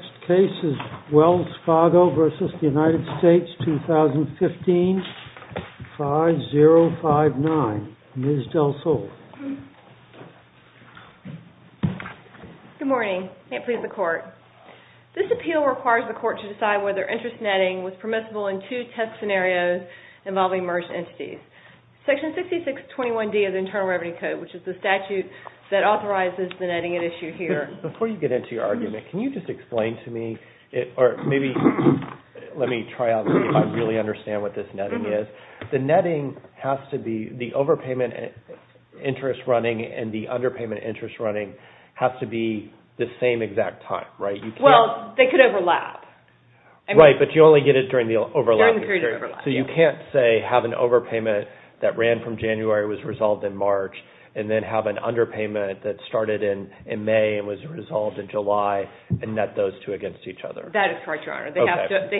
2015, 5059. Ms. DelSole. Good morning. Can't please the court. This appeal requires the court to decide whether interest netting was permissible in two test scenarios involving merged entities. Section 6621D of the Internal Revenue Code, which is the statute that authorizes the netting at issue here. Before you get into your argument, can you just explain to me or maybe let me try out and see if I really understand what this netting is. The netting has to be the overpayment interest running and the underpayment interest running has to be the same exact time, right? Well, they could overlap. Right, but you only get it during the overlap period. So you can't say have an overpayment that ran from January was resolved in March and then have an underpayment that started in May and was resolved in July and net those two against each other. That is correct, Your Honor. They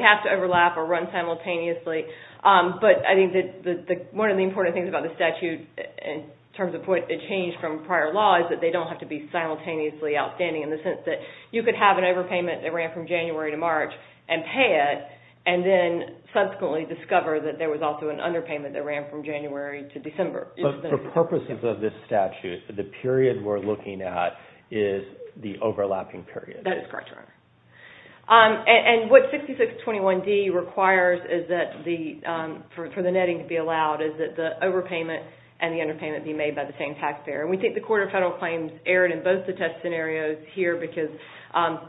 have to overlap or run simultaneously. But I think one of the important things about the statute in terms of what it changed from prior law is that they don't have to be simultaneously outstanding in the sense that you could have an overpayment that ran from January to March and pay it and then subsequently discover that there was also an underpayment that ran from January to December. But for purposes of this statute, the period we're looking at is the overlapping period. That is correct, Your Honor. And what 6621D requires for the netting to be allowed is that the overpayment and the underpayment be made by the same taxpayer. We think the Court of Federal Claims erred in both the test scenarios here because,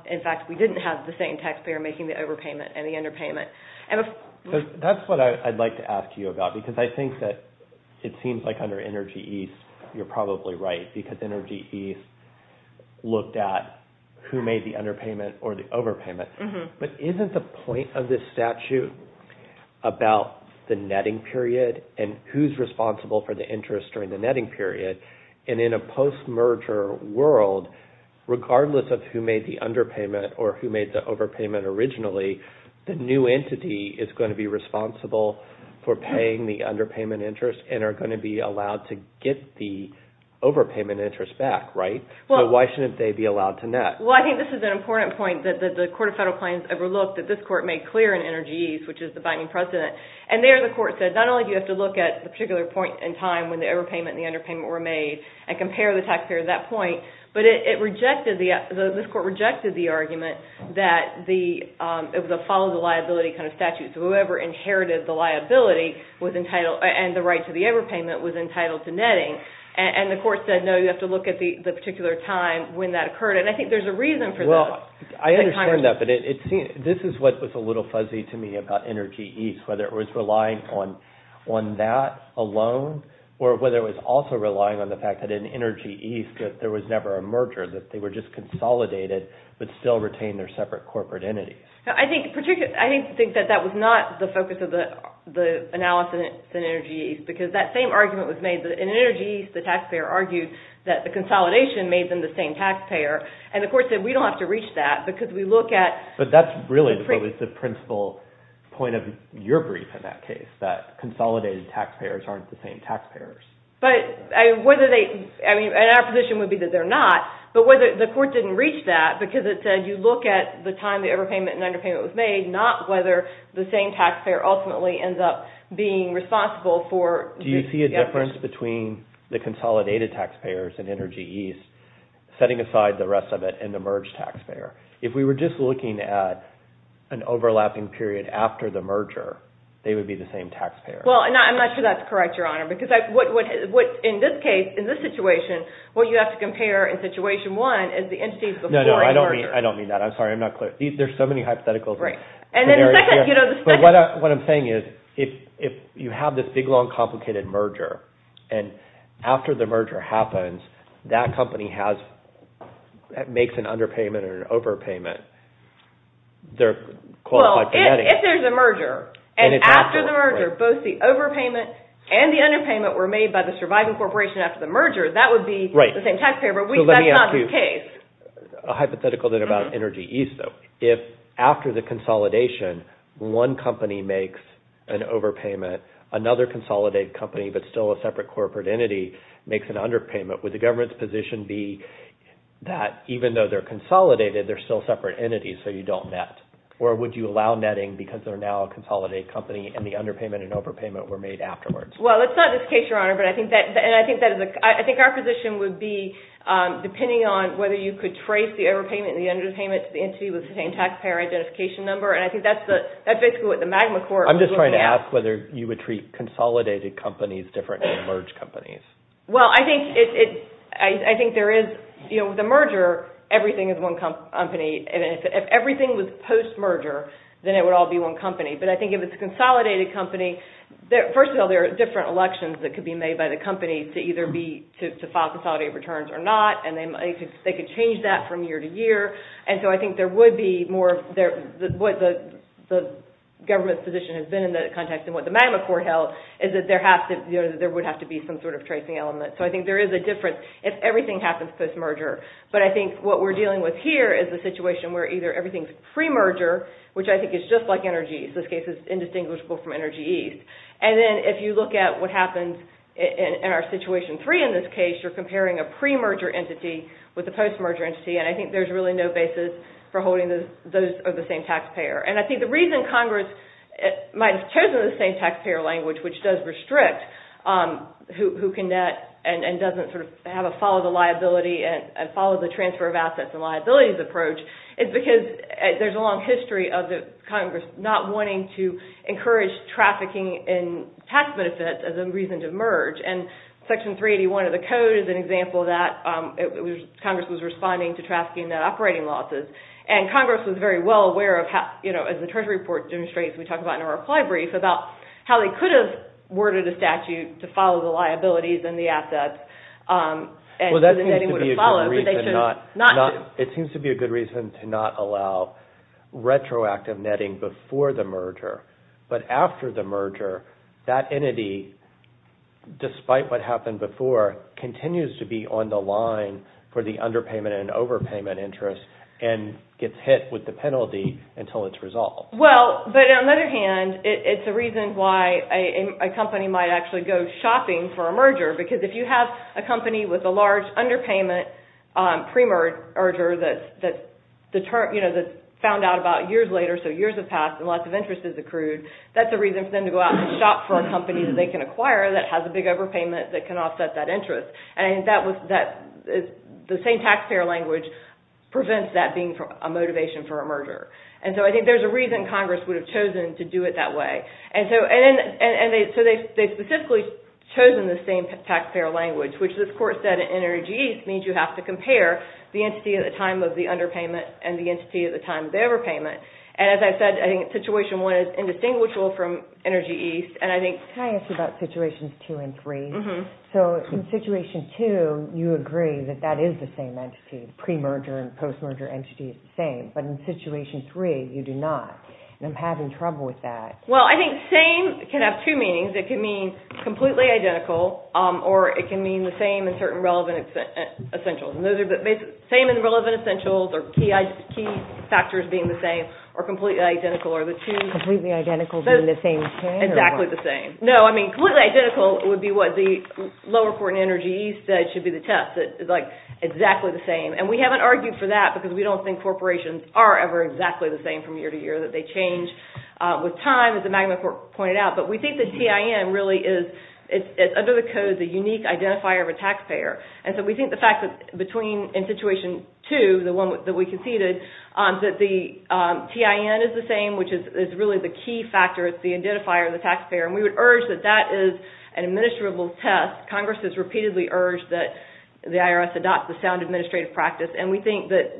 in fact, we didn't have the same taxpayer making the overpayment and the underpayment. That's what I'd like to ask you about because I think that it seems like under Energy East you're probably right because Energy East looked at who made the underpayment or the overpayment. But isn't the point of this statute about the netting period and who's responsible for the interest during the netting period? And in a post-merger world, regardless of who made the underpayment or who made the overpayment originally, the new entity is going to be responsible for paying the underpayment interest and are going to be allowed to get the overpayment interest back, right? So why shouldn't they be allowed to net? Well, I think this is an important point that the Court of Federal Claims overlooked that this Court made clear in Energy East, which is the binding precedent. And there the Court said not only do you have to look at the particular point in time when the overpayment and the underpayment were made and compare the taxpayer at that point, but it rejected, this Court rejected the argument that it was a follow the liability kind of statute. So whoever inherited the liability and the right to the overpayment was entitled to netting. And the Court said, no, you have to look at the particular time when that occurred. And I think there's a reason for that. I understand that, but this is what was a little fuzzy to me about Energy East, whether it was relying on that alone or whether it was also relying on the fact that in Energy East, taxpayers who were consolidated would still retain their separate corporate entities. I think particularly, I think that that was not the focus of the analysis in Energy East because that same argument was made in Energy East, the taxpayer argued that the consolidation made them the same taxpayer. And the Court said, we don't have to reach that because we look at... But that's really the principal point of your brief in that case, that consolidated taxpayers aren't the same taxpayers. But whether they, I mean, and our position would be that they're not, but whether the Court didn't reach that because it said you look at the time the overpayment and underpayment was made, not whether the same taxpayer ultimately ends up being responsible for... Do you see a difference between the consolidated taxpayers in Energy East, setting aside the rest of it, and the merged taxpayer? If we were just looking at an overlapping period after the merger, they would be the same taxpayer. Well, I'm not sure that's correct, Your Honor, because in this case, in this situation, what you have to compare in situation one is the entities before the merger. No, no, I don't mean that. I'm sorry, I'm not clear. There's so many hypotheticals. Right. And then the second, you know, the second... But what I'm saying is, if you have this big, long, complicated merger, and after the merger happens, that company has, makes an underpayment or an overpayment, they're qualified for netting. If there's a merger, and after the merger, both the overpayment and the underpayment were made by the surviving corporation after the merger, that would be the same taxpayer, but that's not the case. Let me ask you a hypothetical then about Energy East, though. If after the consolidation, one company makes an overpayment, another consolidated company, but still a separate corporate entity, makes an underpayment, would the government's position be that even though they're consolidated, they're still separate entities, so you don't net? Or would you allow netting because they're now a consolidated company, and the underpayment and overpayment were made afterwards? Well, it's not this case, Your Honor, but I think that, and I think that is a, I think our position would be, depending on whether you could trace the overpayment and the underpayment to the entity with the same taxpayer identification number, and I think that's the, that's basically what the Magma Court would look at. I'm just trying to ask whether you would treat consolidated companies differently than merged companies. Well, I think it, I think there is, you know, the merger, everything is one company, and if everything was post-merger, then it would all be one company, but I think if it's a consolidated company, first of all, there are different elections that could be made by the company to either be, to file consolidated returns or not, and they could change that from year to year, and so I think there would be more, what the government's position has been in the context of what the Magma Court held is that there would have to be some sort of tracing element, so I think there is a difference if everything happens post-merger, but I think what we're dealing with here is a situation where either everything's pre-merger, which I think is just like Energies. This case is indistinguishable from Energies, and then if you look at what happens in our Situation 3 in this case, you're comparing a pre-merger entity with a post-merger entity, and I think there's really no basis for holding those of the same taxpayer, and I think the reason Congress might have chosen the same taxpayer language, which does restrict who can net and doesn't sort of have a follow the liability and follow the transfer of assets and liabilities approach, is because there's a long history of Congress not wanting to encourage trafficking in tax benefits as a reason to merge, and Section 381 of the Code is an example of that. Congress was responding to trafficking net operating losses, and Congress was very well aware of how, you know, as the Treasury report demonstrates, we talk about in our reply brief about how they could have worded a statute to follow the liabilities and the assets and the netting would have followed, but they should not have. Well, that seems to be a good reason to not allow retroactive netting before the merger, but after the merger, that entity, despite what happened before, continues to be on the line for the underpayment and overpayment interest and gets hit with the penalty until it's resolved. Well, but on the other hand, it's a reason why a company might actually go shopping for a merger, because if you have a company with a large underpayment pre-merger that, you know, found out about years later, so years have passed and lots of interest has accrued, that's a reason for them to go out and shop for a company that they can acquire that has a big overpayment that can offset that interest, and the same taxpayer language prevents that being a motivation for a merger. And so I think there's a reason Congress would have chosen to do it that way, and so they specifically chosen the same taxpayer language, which this Court said in Energy East means you have to compare the entity at the time of the underpayment and the entity at the time of the overpayment, and as I said, I think Situation 1 is indistinguishable from Energy East, and I think... Can I ask you about Situations 2 and 3? Mm-hmm. So in Situation 2, you agree that that is the same entity, pre-merger and post-merger entity is the same, but in Situation 3, you do not, and I'm having trouble with that. Well, I think same can have two meanings. It can mean completely identical, or it can mean the same in certain relevant essentials, and those are the same in relevant essentials, or key factors being the same, or completely identical, or the two... Completely identical being the same as can, or what? Exactly the same. No, I mean, completely identical would be what the lower court in Energy East said should be the test. It's like exactly the same, and we haven't argued for that because we don't think corporations are ever exactly the same from year to year, that they change with time, as the Magnet Court pointed out, but we think the TIN really is, under the code, the unique identifier of a taxpayer, and so we think the fact that between... In Situation 2, the one that we conceded, that the TIN is the same, which is really the key factor. It's the identifier of the taxpayer, and we would urge that that is an administrable test. Congress has repeatedly urged that the IRS adopt the sound administrative practice, and we think that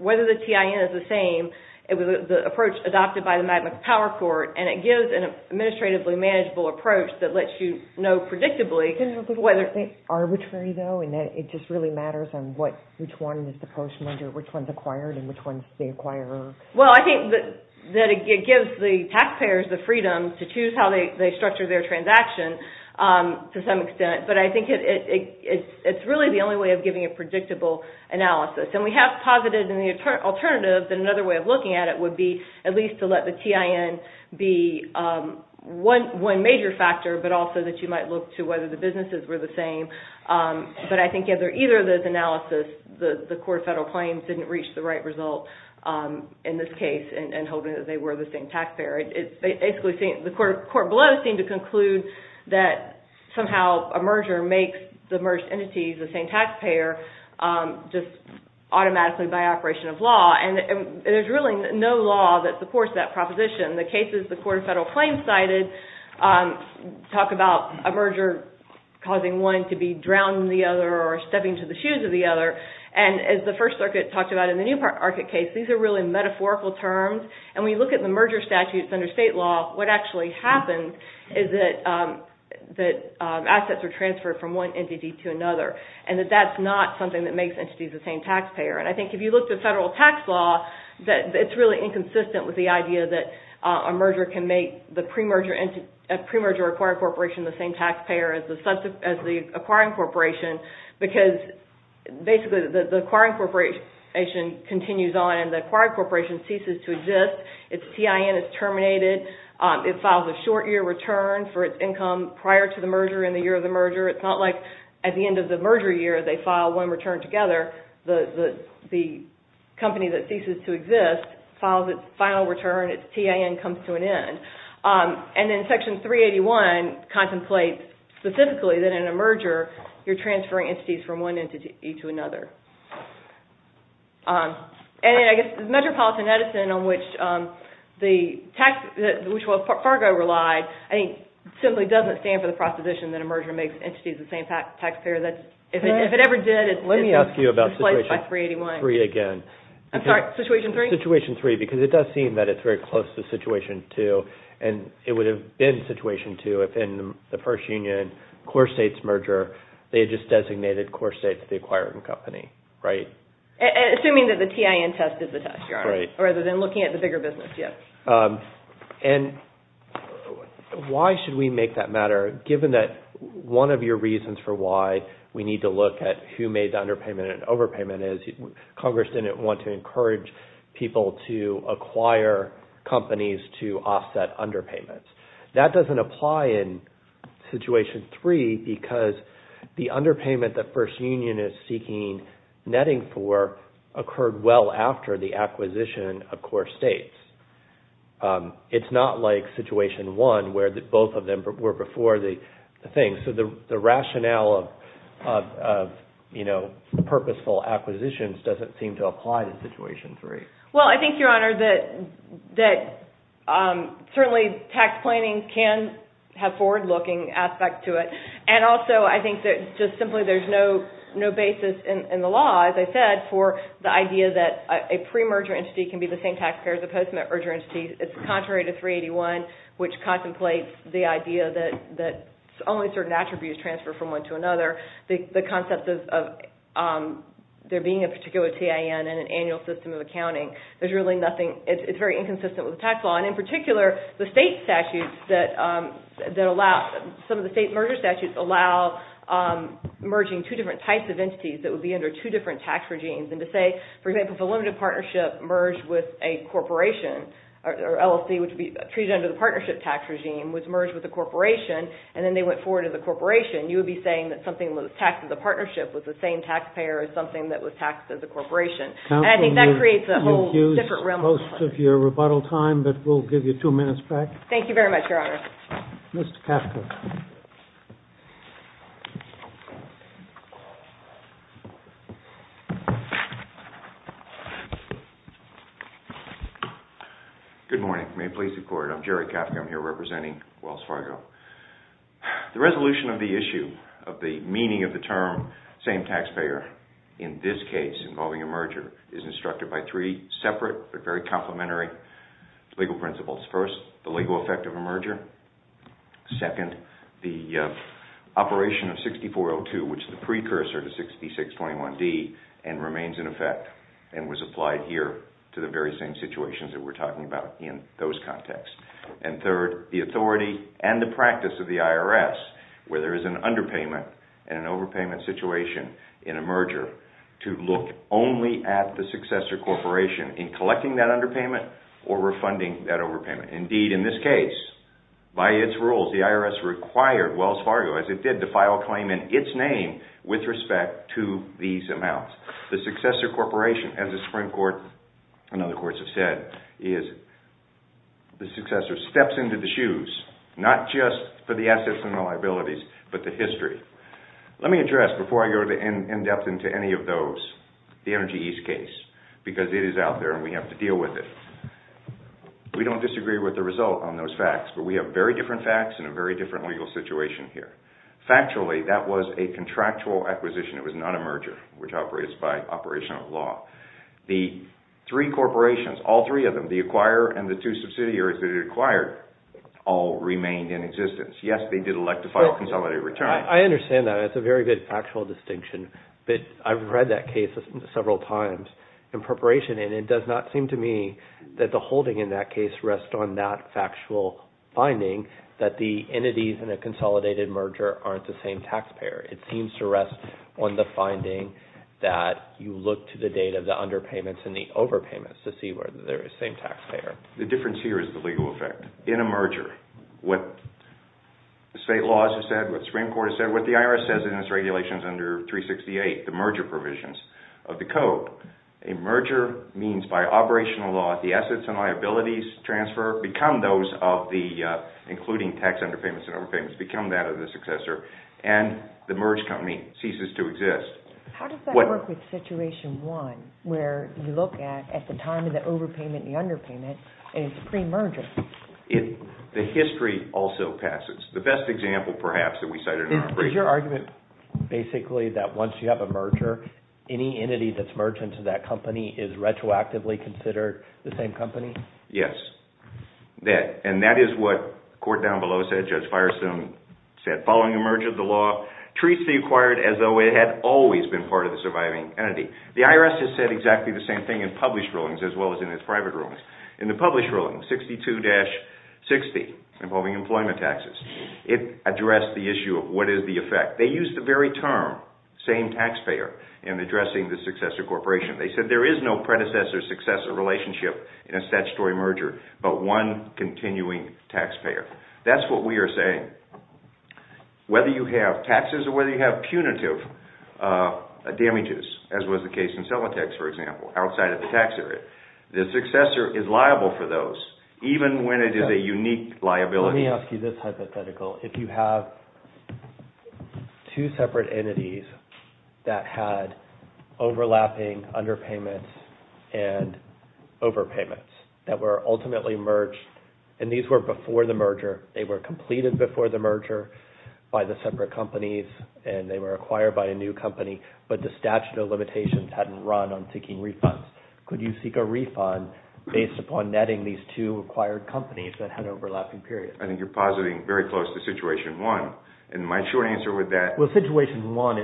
whether the TIN is the same, it was the approach adopted by the Magnet Power Court, and it gives an administratively manageable approach that lets you know predictably whether... Is it arbitrary, though, in that it just really matters on which one is the postman, which one's acquired, and which one's the acquirer? Well, I think that it gives the taxpayers the freedom to choose how they structure their transaction, to some extent, but I think it's really the only way of giving a predictable analysis, and we have posited in the alternative that another way of looking at it would be at least to let the TIN be one major factor, but also that you might look to whether the businesses were the same, but I think either of those analysis, the court of federal claims didn't reach the right result in this case, in hoping that they were the same taxpayer. The court below seemed to conclude that somehow a merger makes the merged entities the same taxpayer, just automatically by operation of law, and there's really no law that supports that proposition. The cases the court of federal claims cited talk about a merger causing one to be drowned in the other, or stepping into the shoes of the other, and as the First Circuit talked about in the Newmarket case, these are really metaphorical terms, and when you look at the case under state law, what actually happens is that assets are transferred from one entity to another, and that that's not something that makes entities the same taxpayer, and I think if you look at federal tax law, it's really inconsistent with the idea that a merger can make a pre-merger or acquiring corporation the same taxpayer as the acquiring corporation, because basically the acquiring corporation continues on, and the acquiring corporation ceases to exist, its TIN is terminated, it files a short year return for its income prior to the merger and the year of the merger, it's not like at the end of the merger year they file one return together, the company that ceases to exist files its final return, its TIN comes to an end, and then section 381 contemplates specifically that in a merger you're transferring entities from one entity to another. And I guess the Metropolitan Edison on which the tax, which Wells Fargo relied, I think simply doesn't stand for the proposition that a merger makes entities the same taxpayer, if it ever did, it's displaced by 381. Let me ask you about situation 3 again. I'm sorry, situation 3? Situation 3, because it does seem that it's very close to situation 2, and it would have been situation 2 if in the first union, core states merger, they just designated core states the acquiring company, right? Assuming that the TIN test is the test, Your Honor. Right. Rather than looking at the bigger business, yes. And why should we make that matter, given that one of your reasons for why we need to look at who made the underpayment and overpayment is Congress didn't want to encourage people to acquire companies to offset underpayments. That doesn't apply in situation 3, because the underpayment that first union is seeking netting for occurred well after the acquisition of core states. It's not like situation 1, where both of them were before the thing. So the rationale of, you know, purposeful acquisitions doesn't seem to apply to situation 3. Well, I think, Your Honor, that certainly tax planning can have forward-looking aspects to it. And also, I think that just simply there's no basis in the law, as I said, for the idea that a pre-merger entity can be the same taxpayer as a post-merger entity. It's contrary to 381, which contemplates the idea that only certain attributes transfer from one to another. The concept of there being a particular TIN and an annual system of accounting, there's really nothing, it's very inconsistent with the tax law. And in particular, the state statutes that allow, some of the state merger statutes allow merging two different types of entities that would be under two different tax regimes. And to say, for example, if a limited partnership merged with a corporation, or LLC, which would be treated under the partnership tax regime, was merged with a corporation, and then they went forward as a corporation, you would be saying that something that was taxed as a partnership was the same taxpayer as something that was taxed as a corporation. And I think that creates a whole different realm. Counsel, you've used most of your rebuttal time, but we'll give you two minutes back. Thank you very much, Your Honor. Mr. Kafka. Good morning. May it please the Court. I'm Jerry Kafka. I'm here representing Wells Fargo. The resolution of the issue of the meaning of the term, same taxpayer, in this case, involving a merger, is instructed by three separate but very complementary legal principles. First, the legal effect of a merger. Second, the operation of 6402, which is the precursor to 6621D, and remains in effect and was applied here to the very same situations that we're talking about in those contexts. And third, the authority and the practice of the IRS, where there is an underpayment and an overpayment situation in a merger, to look only at the successor corporation in collecting that underpayment or refunding that overpayment. Indeed, in this case, by its rules, the IRS required Wells Fargo, as it did, to file a claim in its name with respect to these amounts. The successor corporation, as the Supreme Court and other courts have said, is the successor, steps into the shoes, not just for the assets and the liabilities, but the history. Let me address, before I go into any of those, the Energy East case, because it is out there and we have to deal with it. We don't disagree with the result on those facts, but we have very different facts and a very different legal situation here. Factually, that was a contractual acquisition. It was not a merger, which operates by operational law. The three corporations, all three of them, the acquirer and the two subsidiaries that it acquired, all remained in existence. Yes, they did elect to file a consolidated return. I understand that. It's a very good factual distinction. But I've read that case several times in preparation, and it does not seem to me that the holding in that case rests on that factual finding, that the entities in a consolidated merger aren't the same taxpayer. It seems to rest on the finding that you look to the date of the underpayments and the overpayments to see whether they're the same taxpayer. The difference here is the legal effect. In a merger, what the state laws have said, what the Supreme Court has said, what the IRS says in its regulations under 368, the merger provisions of the Code, a merger means by operational law, the assets and liabilities transfer become those of the, including tax underpayments and overpayments, become that of the successor. And the merged company ceases to exist. How does that work with Situation 1, where you look at the time of the overpayment and the underpayment, and it's pre-merger? The history also passes. The best example, perhaps, that we cited in our brief... Is your argument basically that once you have a merger, any entity that's merged into that company is retroactively considered the same company? Yes. And that is what the court down below said, Judge Firestone said. That following a merger, the law treats the acquired as though it had always been part of the surviving entity. The IRS has said exactly the same thing in published rulings as well as in its private rulings. In the published ruling, 62-60, involving employment taxes, it addressed the issue of what is the effect. They used the very term, same taxpayer, in addressing the successor corporation. They said there is no predecessor-successor relationship in a statutory merger but one continuing taxpayer. That's what we are saying. Whether you have taxes or whether you have punitive damages, as was the case in Silvatex, for example, outside of the tax area, the successor is liable for those, even when it is a unique liability. Let me ask you this hypothetical. If you have two separate entities that had overlapping underpayments and overpayments that were ultimately merged, and these were before the merger, they were completed before the merger by the separate companies and they were acquired by a new company, but the statute of limitations hadn't run on seeking refunds, could you seek a refund based upon netting these two acquired companies that had overlapping periods? I think you are positing very close to Situation 1. My short answer with that... With Situation 1,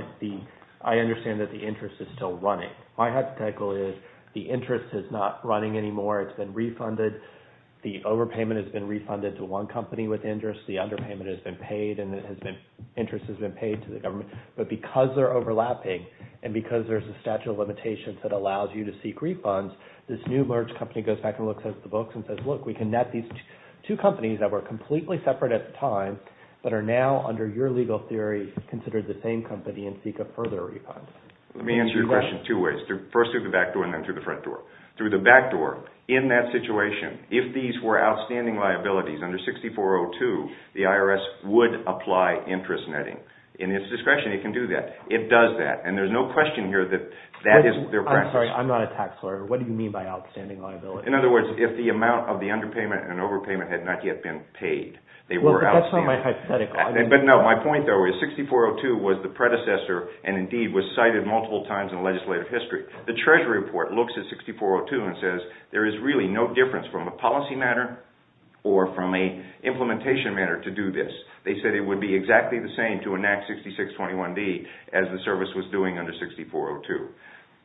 I understand that the interest is still running. My hypothetical is the interest is not running anymore. It's been refunded. The overpayment has been refunded to one company with interest. The underpayment has been paid. Interest has been paid to the government. But because they are overlapping and because there is a statute of limitations that allows you to seek refunds, this new merged company goes back and looks at the books and says, look, we can net these two companies that were completely separate at the time but are now, under your legal theory, considered the same company and seek a further refund. Let me answer your question two ways. First through the back door and then through the front door. Through the back door, in that situation, if these were outstanding liabilities under 6402, the IRS would apply interest netting. In its discretion, it can do that. It does that and there is no question here that that isn't their practice. I'm sorry, I'm not a tax lawyer. What do you mean by outstanding liabilities? In other words, if the amount of the underpayment and overpayment had not yet been paid, they were outstanding. That's not my hypothetical. But no, my point though is 6402 was the predecessor and indeed was cited multiple times in legislative history. The Treasury report looks at 6402 and says there is really no difference from a policy matter or from an implementation matter to do this. They said it would be exactly the same to enact 6621D as the service was doing under 6402.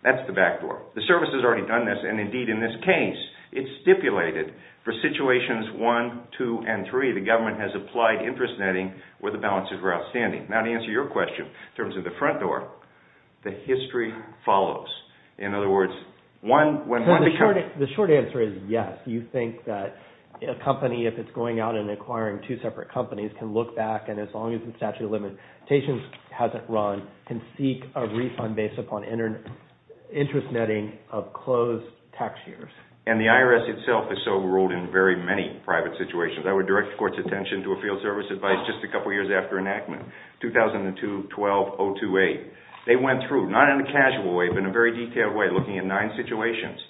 That's the back door. The service has already done this and indeed in this case, it stipulated for situations one, two, and three, the government has applied interest netting where the balances were outstanding. Now to answer your question in terms of the front door, the history follows. In other words, when one becomes... The short answer is yes. You think that a company, if it's going out and acquiring two separate companies, can look back and as long as the statute of limitations hasn't run, can seek a refund based upon interest netting of closed tax years. And the IRS itself has so ruled in very many private situations. I would direct the court's attention to a field service advice just a couple of years after enactment, 2002-12-028. They went through, not in a casual way, but in a very detailed way looking at nine situations.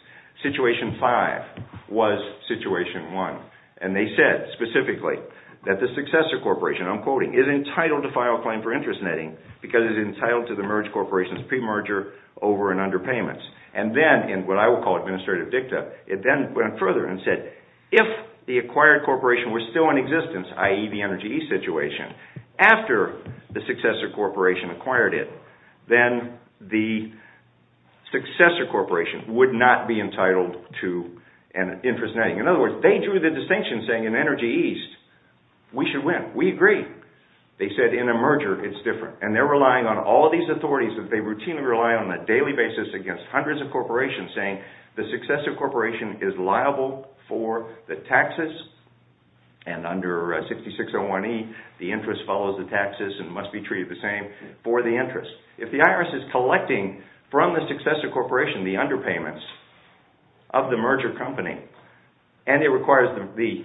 Situation five was situation one. And they said specifically that the successor corporation, I'm quoting, is entitled to file a claim for interest netting because it's entitled to the merged corporation's pre-merger over and under payments. And then in what I would call administrative dicta, it then went further and said if the acquired corporation was still in existence, i.e. the energy situation, after the successor corporation acquired it, then the successor corporation would not be entitled to an interest netting. In other words, they drew the distinction saying in Energy East, we should win. We agree. They said in a merger, it's different. And they're relying on all of these authorities that they routinely rely on on a daily basis against hundreds of corporations saying the successor corporation is liable for the taxes and under 6601E, the interest follows the taxes and must be treated the same for the interest. If the IRS is collecting from the successor corporation the underpayments of the merger company and it requires the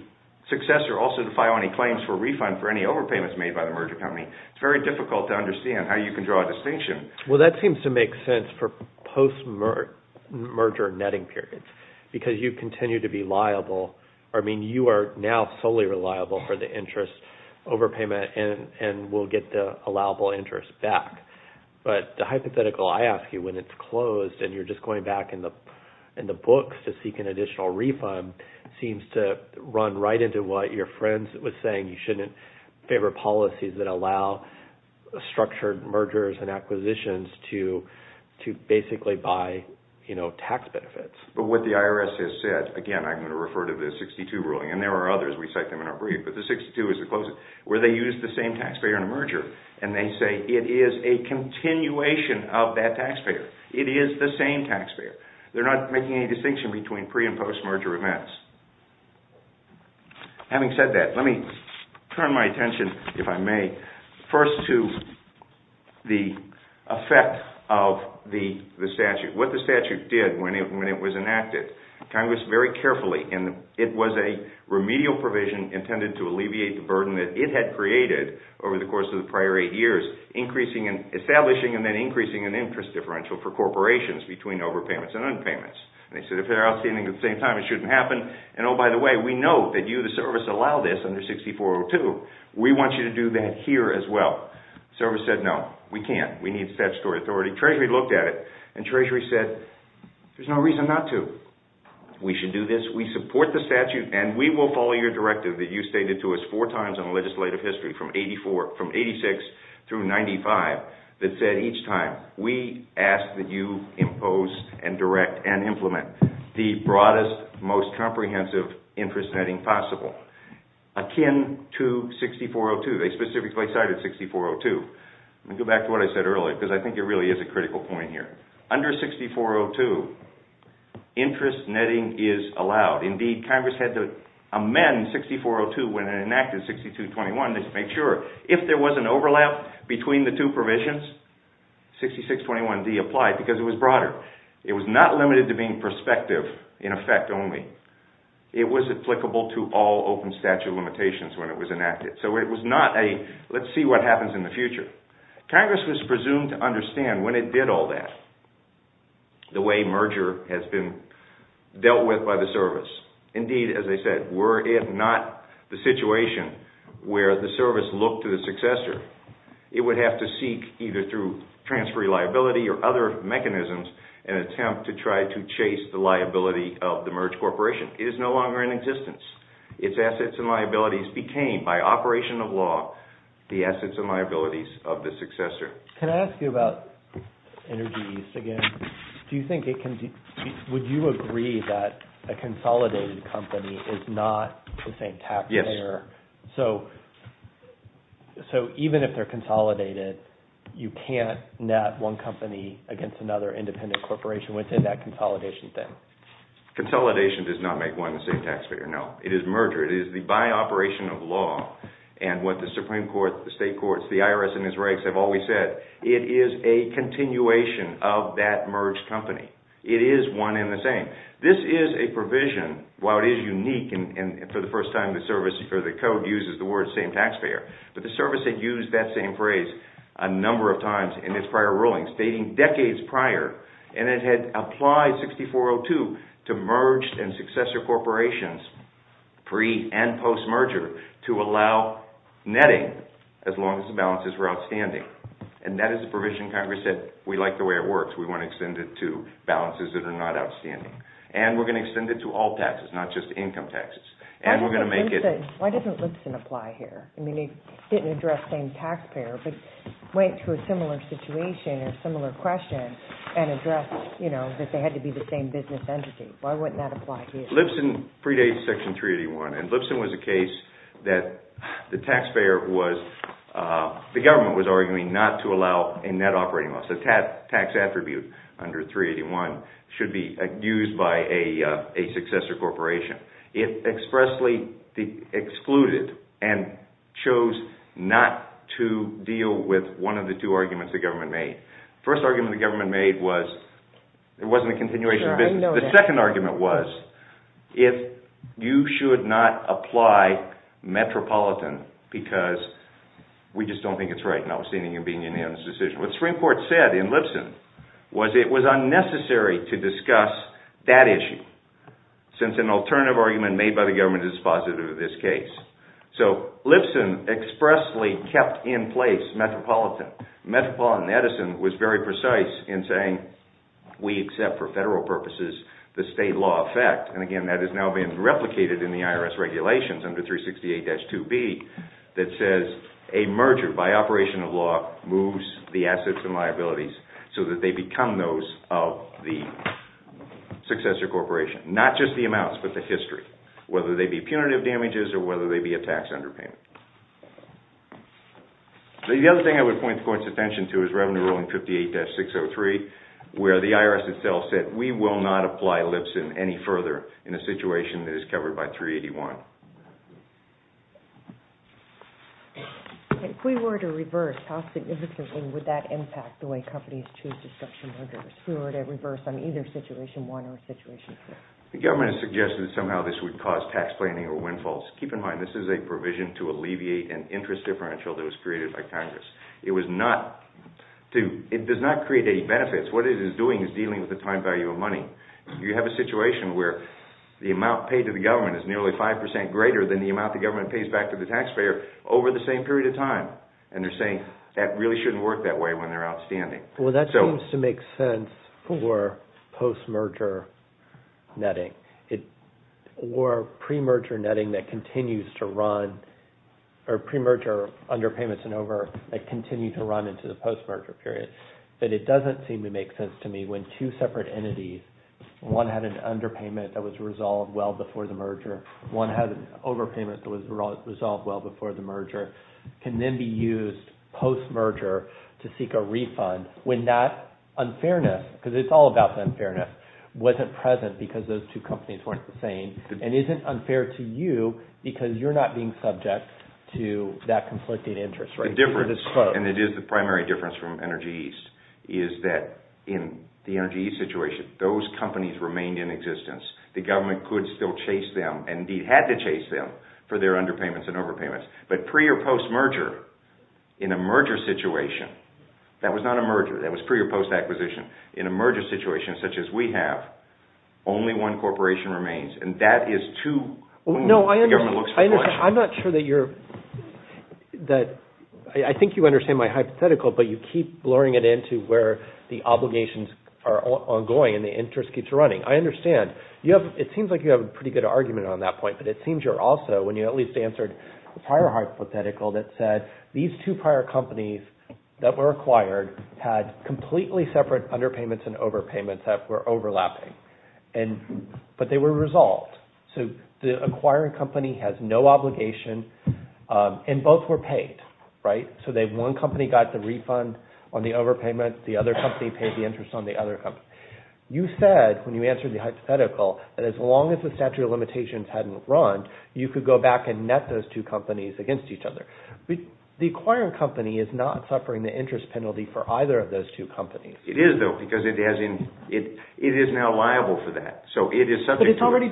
successor also to file any claims for refund for any overpayments made by the merger company, it's very difficult to understand how you can draw a distinction. Well, that seems to make sense for post-merger netting periods because you continue to be liable or, I mean, you are now solely reliable for the interest overpayment and will get the allowable interest back. But the hypothetical, I ask you, when it's closed and you're just going back in the books to seek an additional refund seems to run right into what your friend was saying, you shouldn't favor policies that allow structured mergers and acquisitions to basically buy tax benefits. But what the IRS has said, again, I'm going to refer to the 62 ruling and there are others, we cite them in our brief, but the 62 is the closest where they use the same taxpayer in a merger and they say it is a continuation of that taxpayer. It is the same taxpayer. They're not making any distinction between pre- and post-merger events. Having said that, let me turn my attention, if I may, first to the effect of the statute. What the statute did when it was enacted, Congress very carefully, and it was a remedial provision intended to alleviate the burden that it had created over the course of the prior eight years establishing and then increasing an interest differential for corporations between overpayments and underpayments. They said if they're outstanding at the same time it shouldn't happen and oh, by the way, we know that you, the service, allow this under 6402. We want you to do that here as well. Service said no, we can't, we need statutory authority. Treasury looked at it and Treasury said there's no reason not to. We should do this, we support the statute and we will follow your directive that you stated to us four times in legislative history from 86 through 95 that said each time we ask that you impose and direct and implement the broadest, most comprehensive interest netting possible akin to 6402. They specifically cited 6402. Let me go back to what I said earlier because I think it really is a critical point here. Under 6402 interest netting is allowed. Indeed, Congress had to amend 6402 when it enacted 6421 to make sure if there was an overlap between the two provisions 6621D applied because it was broader. It was not limited to being perspective in effect only. It was applicable to all open statute limitations when it was enacted. So it was not a let's see what happens in the future. Congress was presumed to understand when it did all that the way merger has been dealt with by the service. Indeed, as I said, were it not the situation where the service looked to the successor, it would have to seek either through transfer liability or other mechanisms an attempt to try to chase the liability of the merged corporation. It is no longer in existence. Its assets and liabilities became by operation of law the assets and liabilities of the successor. Can I ask you about Energy East again? Do you think it can be would you agree that a consolidated company is not the same taxpayer? Yes. So so even if they're consolidated you can't net one company against another independent corporation within that consolidation thing? Consolidation does not make one the same taxpayer. No. It is merger. It is the by operation of law and what the Supreme Court the state courts the IRS and the Israelis have always said it is a continuation of that merged company. It is one and the same. This is a provision while it is unique and for the first time the service or the code uses the word same taxpayer but the service had used that same phrase a number of times in its prior rulings dating decades prior and it had applied 6402 to merged and successor corporations pre and post merger to allow netting as long as the balances were outstanding and that is a provision Congress said we like the way it works we want to extend it to balances that are not outstanding and we are going to extend it to all taxes not just income taxes and we are going to make it Why doesn't Lipson apply here? I mean he didn't address same taxpayer but went to a similar situation or similar question and addressed that they had to be the same business entity why wouldn't that apply here? Lipson predates section 381 and Lipson was a case that the taxpayer was the government was arguing not to allow a net operating tax attribute under 381 should be used by a successor corporation it expressly excluded and chose not to deal with one of the two arguments the government made first argument the government made was it wasn't a continuation of business the second argument was if you should not apply metropolitan because we just don't I think it's right notwithstanding being a unanimous what Supreme Court said in Lipson was it was unnecessary to discuss that issue since an alternative argument made by the government is positive in this case so Lipson expressly kept in place metropolitan metropolitan Edison was very precise in saying we accept for federal purposes the state law effect and again that is now being replicated in the IRS regulations under 368-2B that says a merger by operation of law moves the assets and liabilities so that they become those of the successor corporation not just the amounts but the history whether they be punitive damages or whether they be a tax underpayment the other thing I would point the court's attention to is revenue ruling 58-603 where the IRS itself said we will not apply Lipson any further in a situation that is covered by 381 if we were to reverse how significantly would that impact the way companies choose to structure mergers if we were to reverse on either situation 1 or situation 2 the government has suggested that somehow this would cause tax planning or windfalls keep in mind this is a provision to alleviate an interest differential that was created by Congress it was not to it does not create any benefits what it is doing is dealing with the time value of money you have a situation where the amount paid to the government is nearly 5% greater than the amount the government pays back to the taxpayer over the same period of time and they're saying that really shouldn't work that way when they're outstanding well that seems to make sense for postmerger netting or premerger netting that continues to run or premerger underpayments and over that continue to run into the postmerger period but it doesn't seem to make sense to me when two separate entities one had an underpayment that was to seek a refund when that unfairness because it's all about the unfairness wasn't present because those two companies weren't the same and isn't unfair to you because you're not being subject to that conflicting interest the difference and it is the primary difference from Energy East is that in the Energy East situation those companies remained in existence the government could still chase them and indeed had to chase them for their underpayments and overpayments but pre or postmerger in a merger situation in a merger situation such as we have only one corporation remains and that is too No, I understand I'm not sure that you're that I think you understand my hypothetical but you keep blurring it into where the obligations are ongoing and the interest keeps running I understand you have it seems like you have a pretty good argument on that point but it seems you're also when you at least answered the prior hypothetical that said these two prior companies that were acquired had completely separate underpayments and overpayments that were overlapping but they were resolved so the acquiring company has no obligation and both were paid right so one company got the refund on the overpayment the other company paid the refund were completely separate companies against each other the acquiring company is not suffering the interest penalty for either of those two companies it is though because it is now liable for that so it is subject to but it has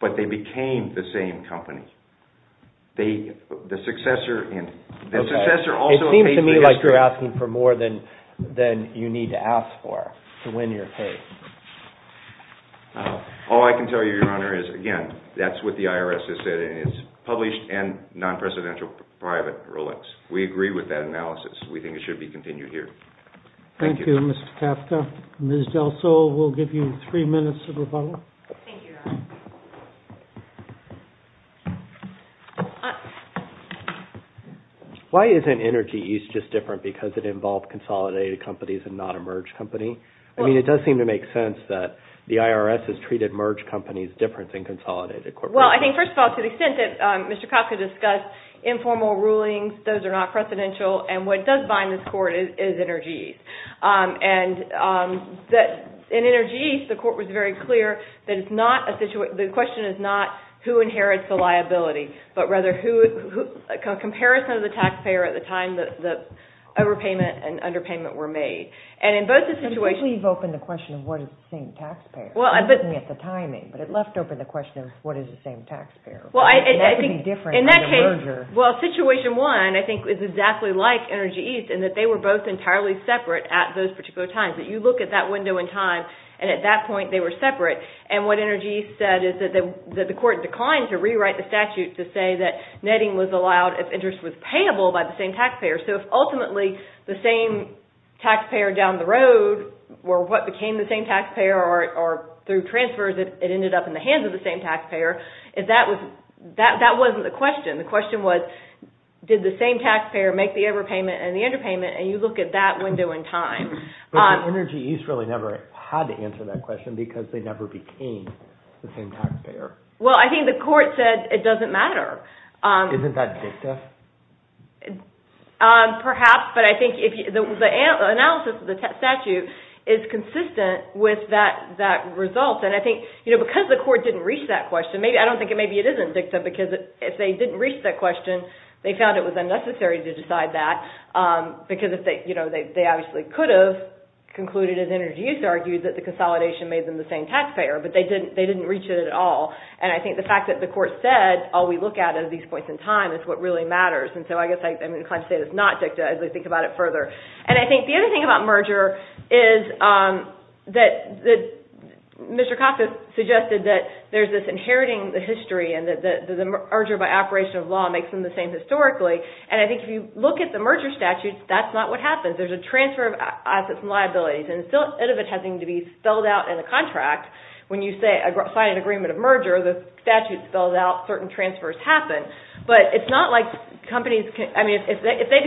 but they became the same company they the successor the successor also it seems to me like you're asking for more than you need to ask for to win your case all I can tell you your honor is again that's what the IRS has said and is published and non-presidential private rulings we agree with that analysis we think it should be continued here thank you Mr. Kafka Ms. Delso will give you three minutes of rebuttal thank you your honor why isn't energy use just different because does it involve consolidated companies and not a merged company I mean it does seem to make sense that the IRS has treated merged companies differently than consolidated corporations well I think first of all to the extent that Mr. Kafka discussed informal rulings those are not precedential and what does bind this court is energy use the question is not who inherits the liability but rather comparison of the taxpayer at the time the overpayment and underpayment were made and in both situations you leave open the question of what is the same taxpayer well situation one I think is exactly like energy use they were both entirely separate at those particular times you look at that window in time and at that point they were separate and what energy said is that the court declined to rewrite the statute to say that netting was allowed if interest was payable by the same taxpayer so if ultimately the same taxpayer down the road or what became the same taxpayer or through transfers it ended up in the hands of the same taxpayer that wasn't the question the question was did the same taxpayer make the overpayment and the underpayment and you look at that window in time but Energy East really never had to answer that question because they never became the same taxpayer well I think the court said it doesn't matter isn't that dictative perhaps but I think the analysis of the statute is consistent with that result and I think because the court didn't reach that question I don't think it isn't dictative because if they didn't reach that question they found it was unnecessary to decide that because they could have concluded as Energy East argued the consolidation made them the same taxpayer but they didn't reach it at all and I think the court said all we look at is what really matters and I think the other thing about merger is that there is inheriting the history and if you look at the merger statute that's not what happens there is transfer of companies I mean if they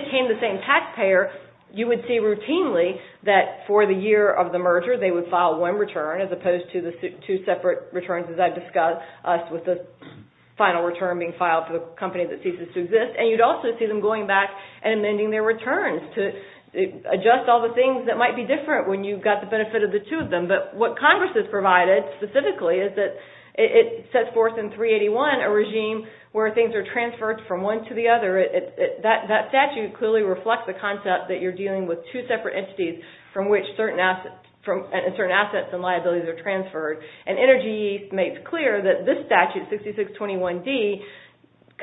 became the same taxpayer you would see routinely that for the year of the merger they would file one return as opposed to two separate returns as I might be different when you have the benefit of the two of them but what Congress provided is that it sets forth a regime where things are transferred from one to another and it makes clear that this statute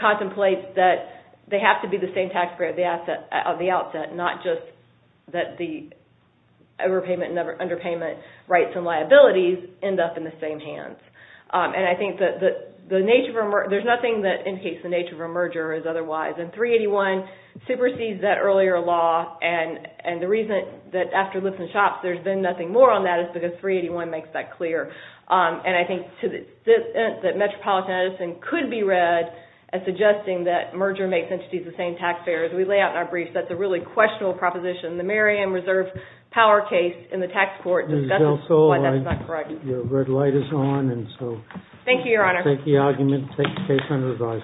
contemplates that they have to be the same taxpayer of the outset not just that the overpayment and underpayment rights and liabilities end up in the same hands and I think that there's nothing that indicates the nature of a merger as otherwise and 381 supersedes that earlier law and the reason that there's been nothing more on that is because 381 makes that clear and I think that Metropolitan Edison could be read as suggesting that merger makes entities the same taxpayer as we lay out in our brief that's a really questionable proposition in the tax court so your red light is on and so take the argument and take the case under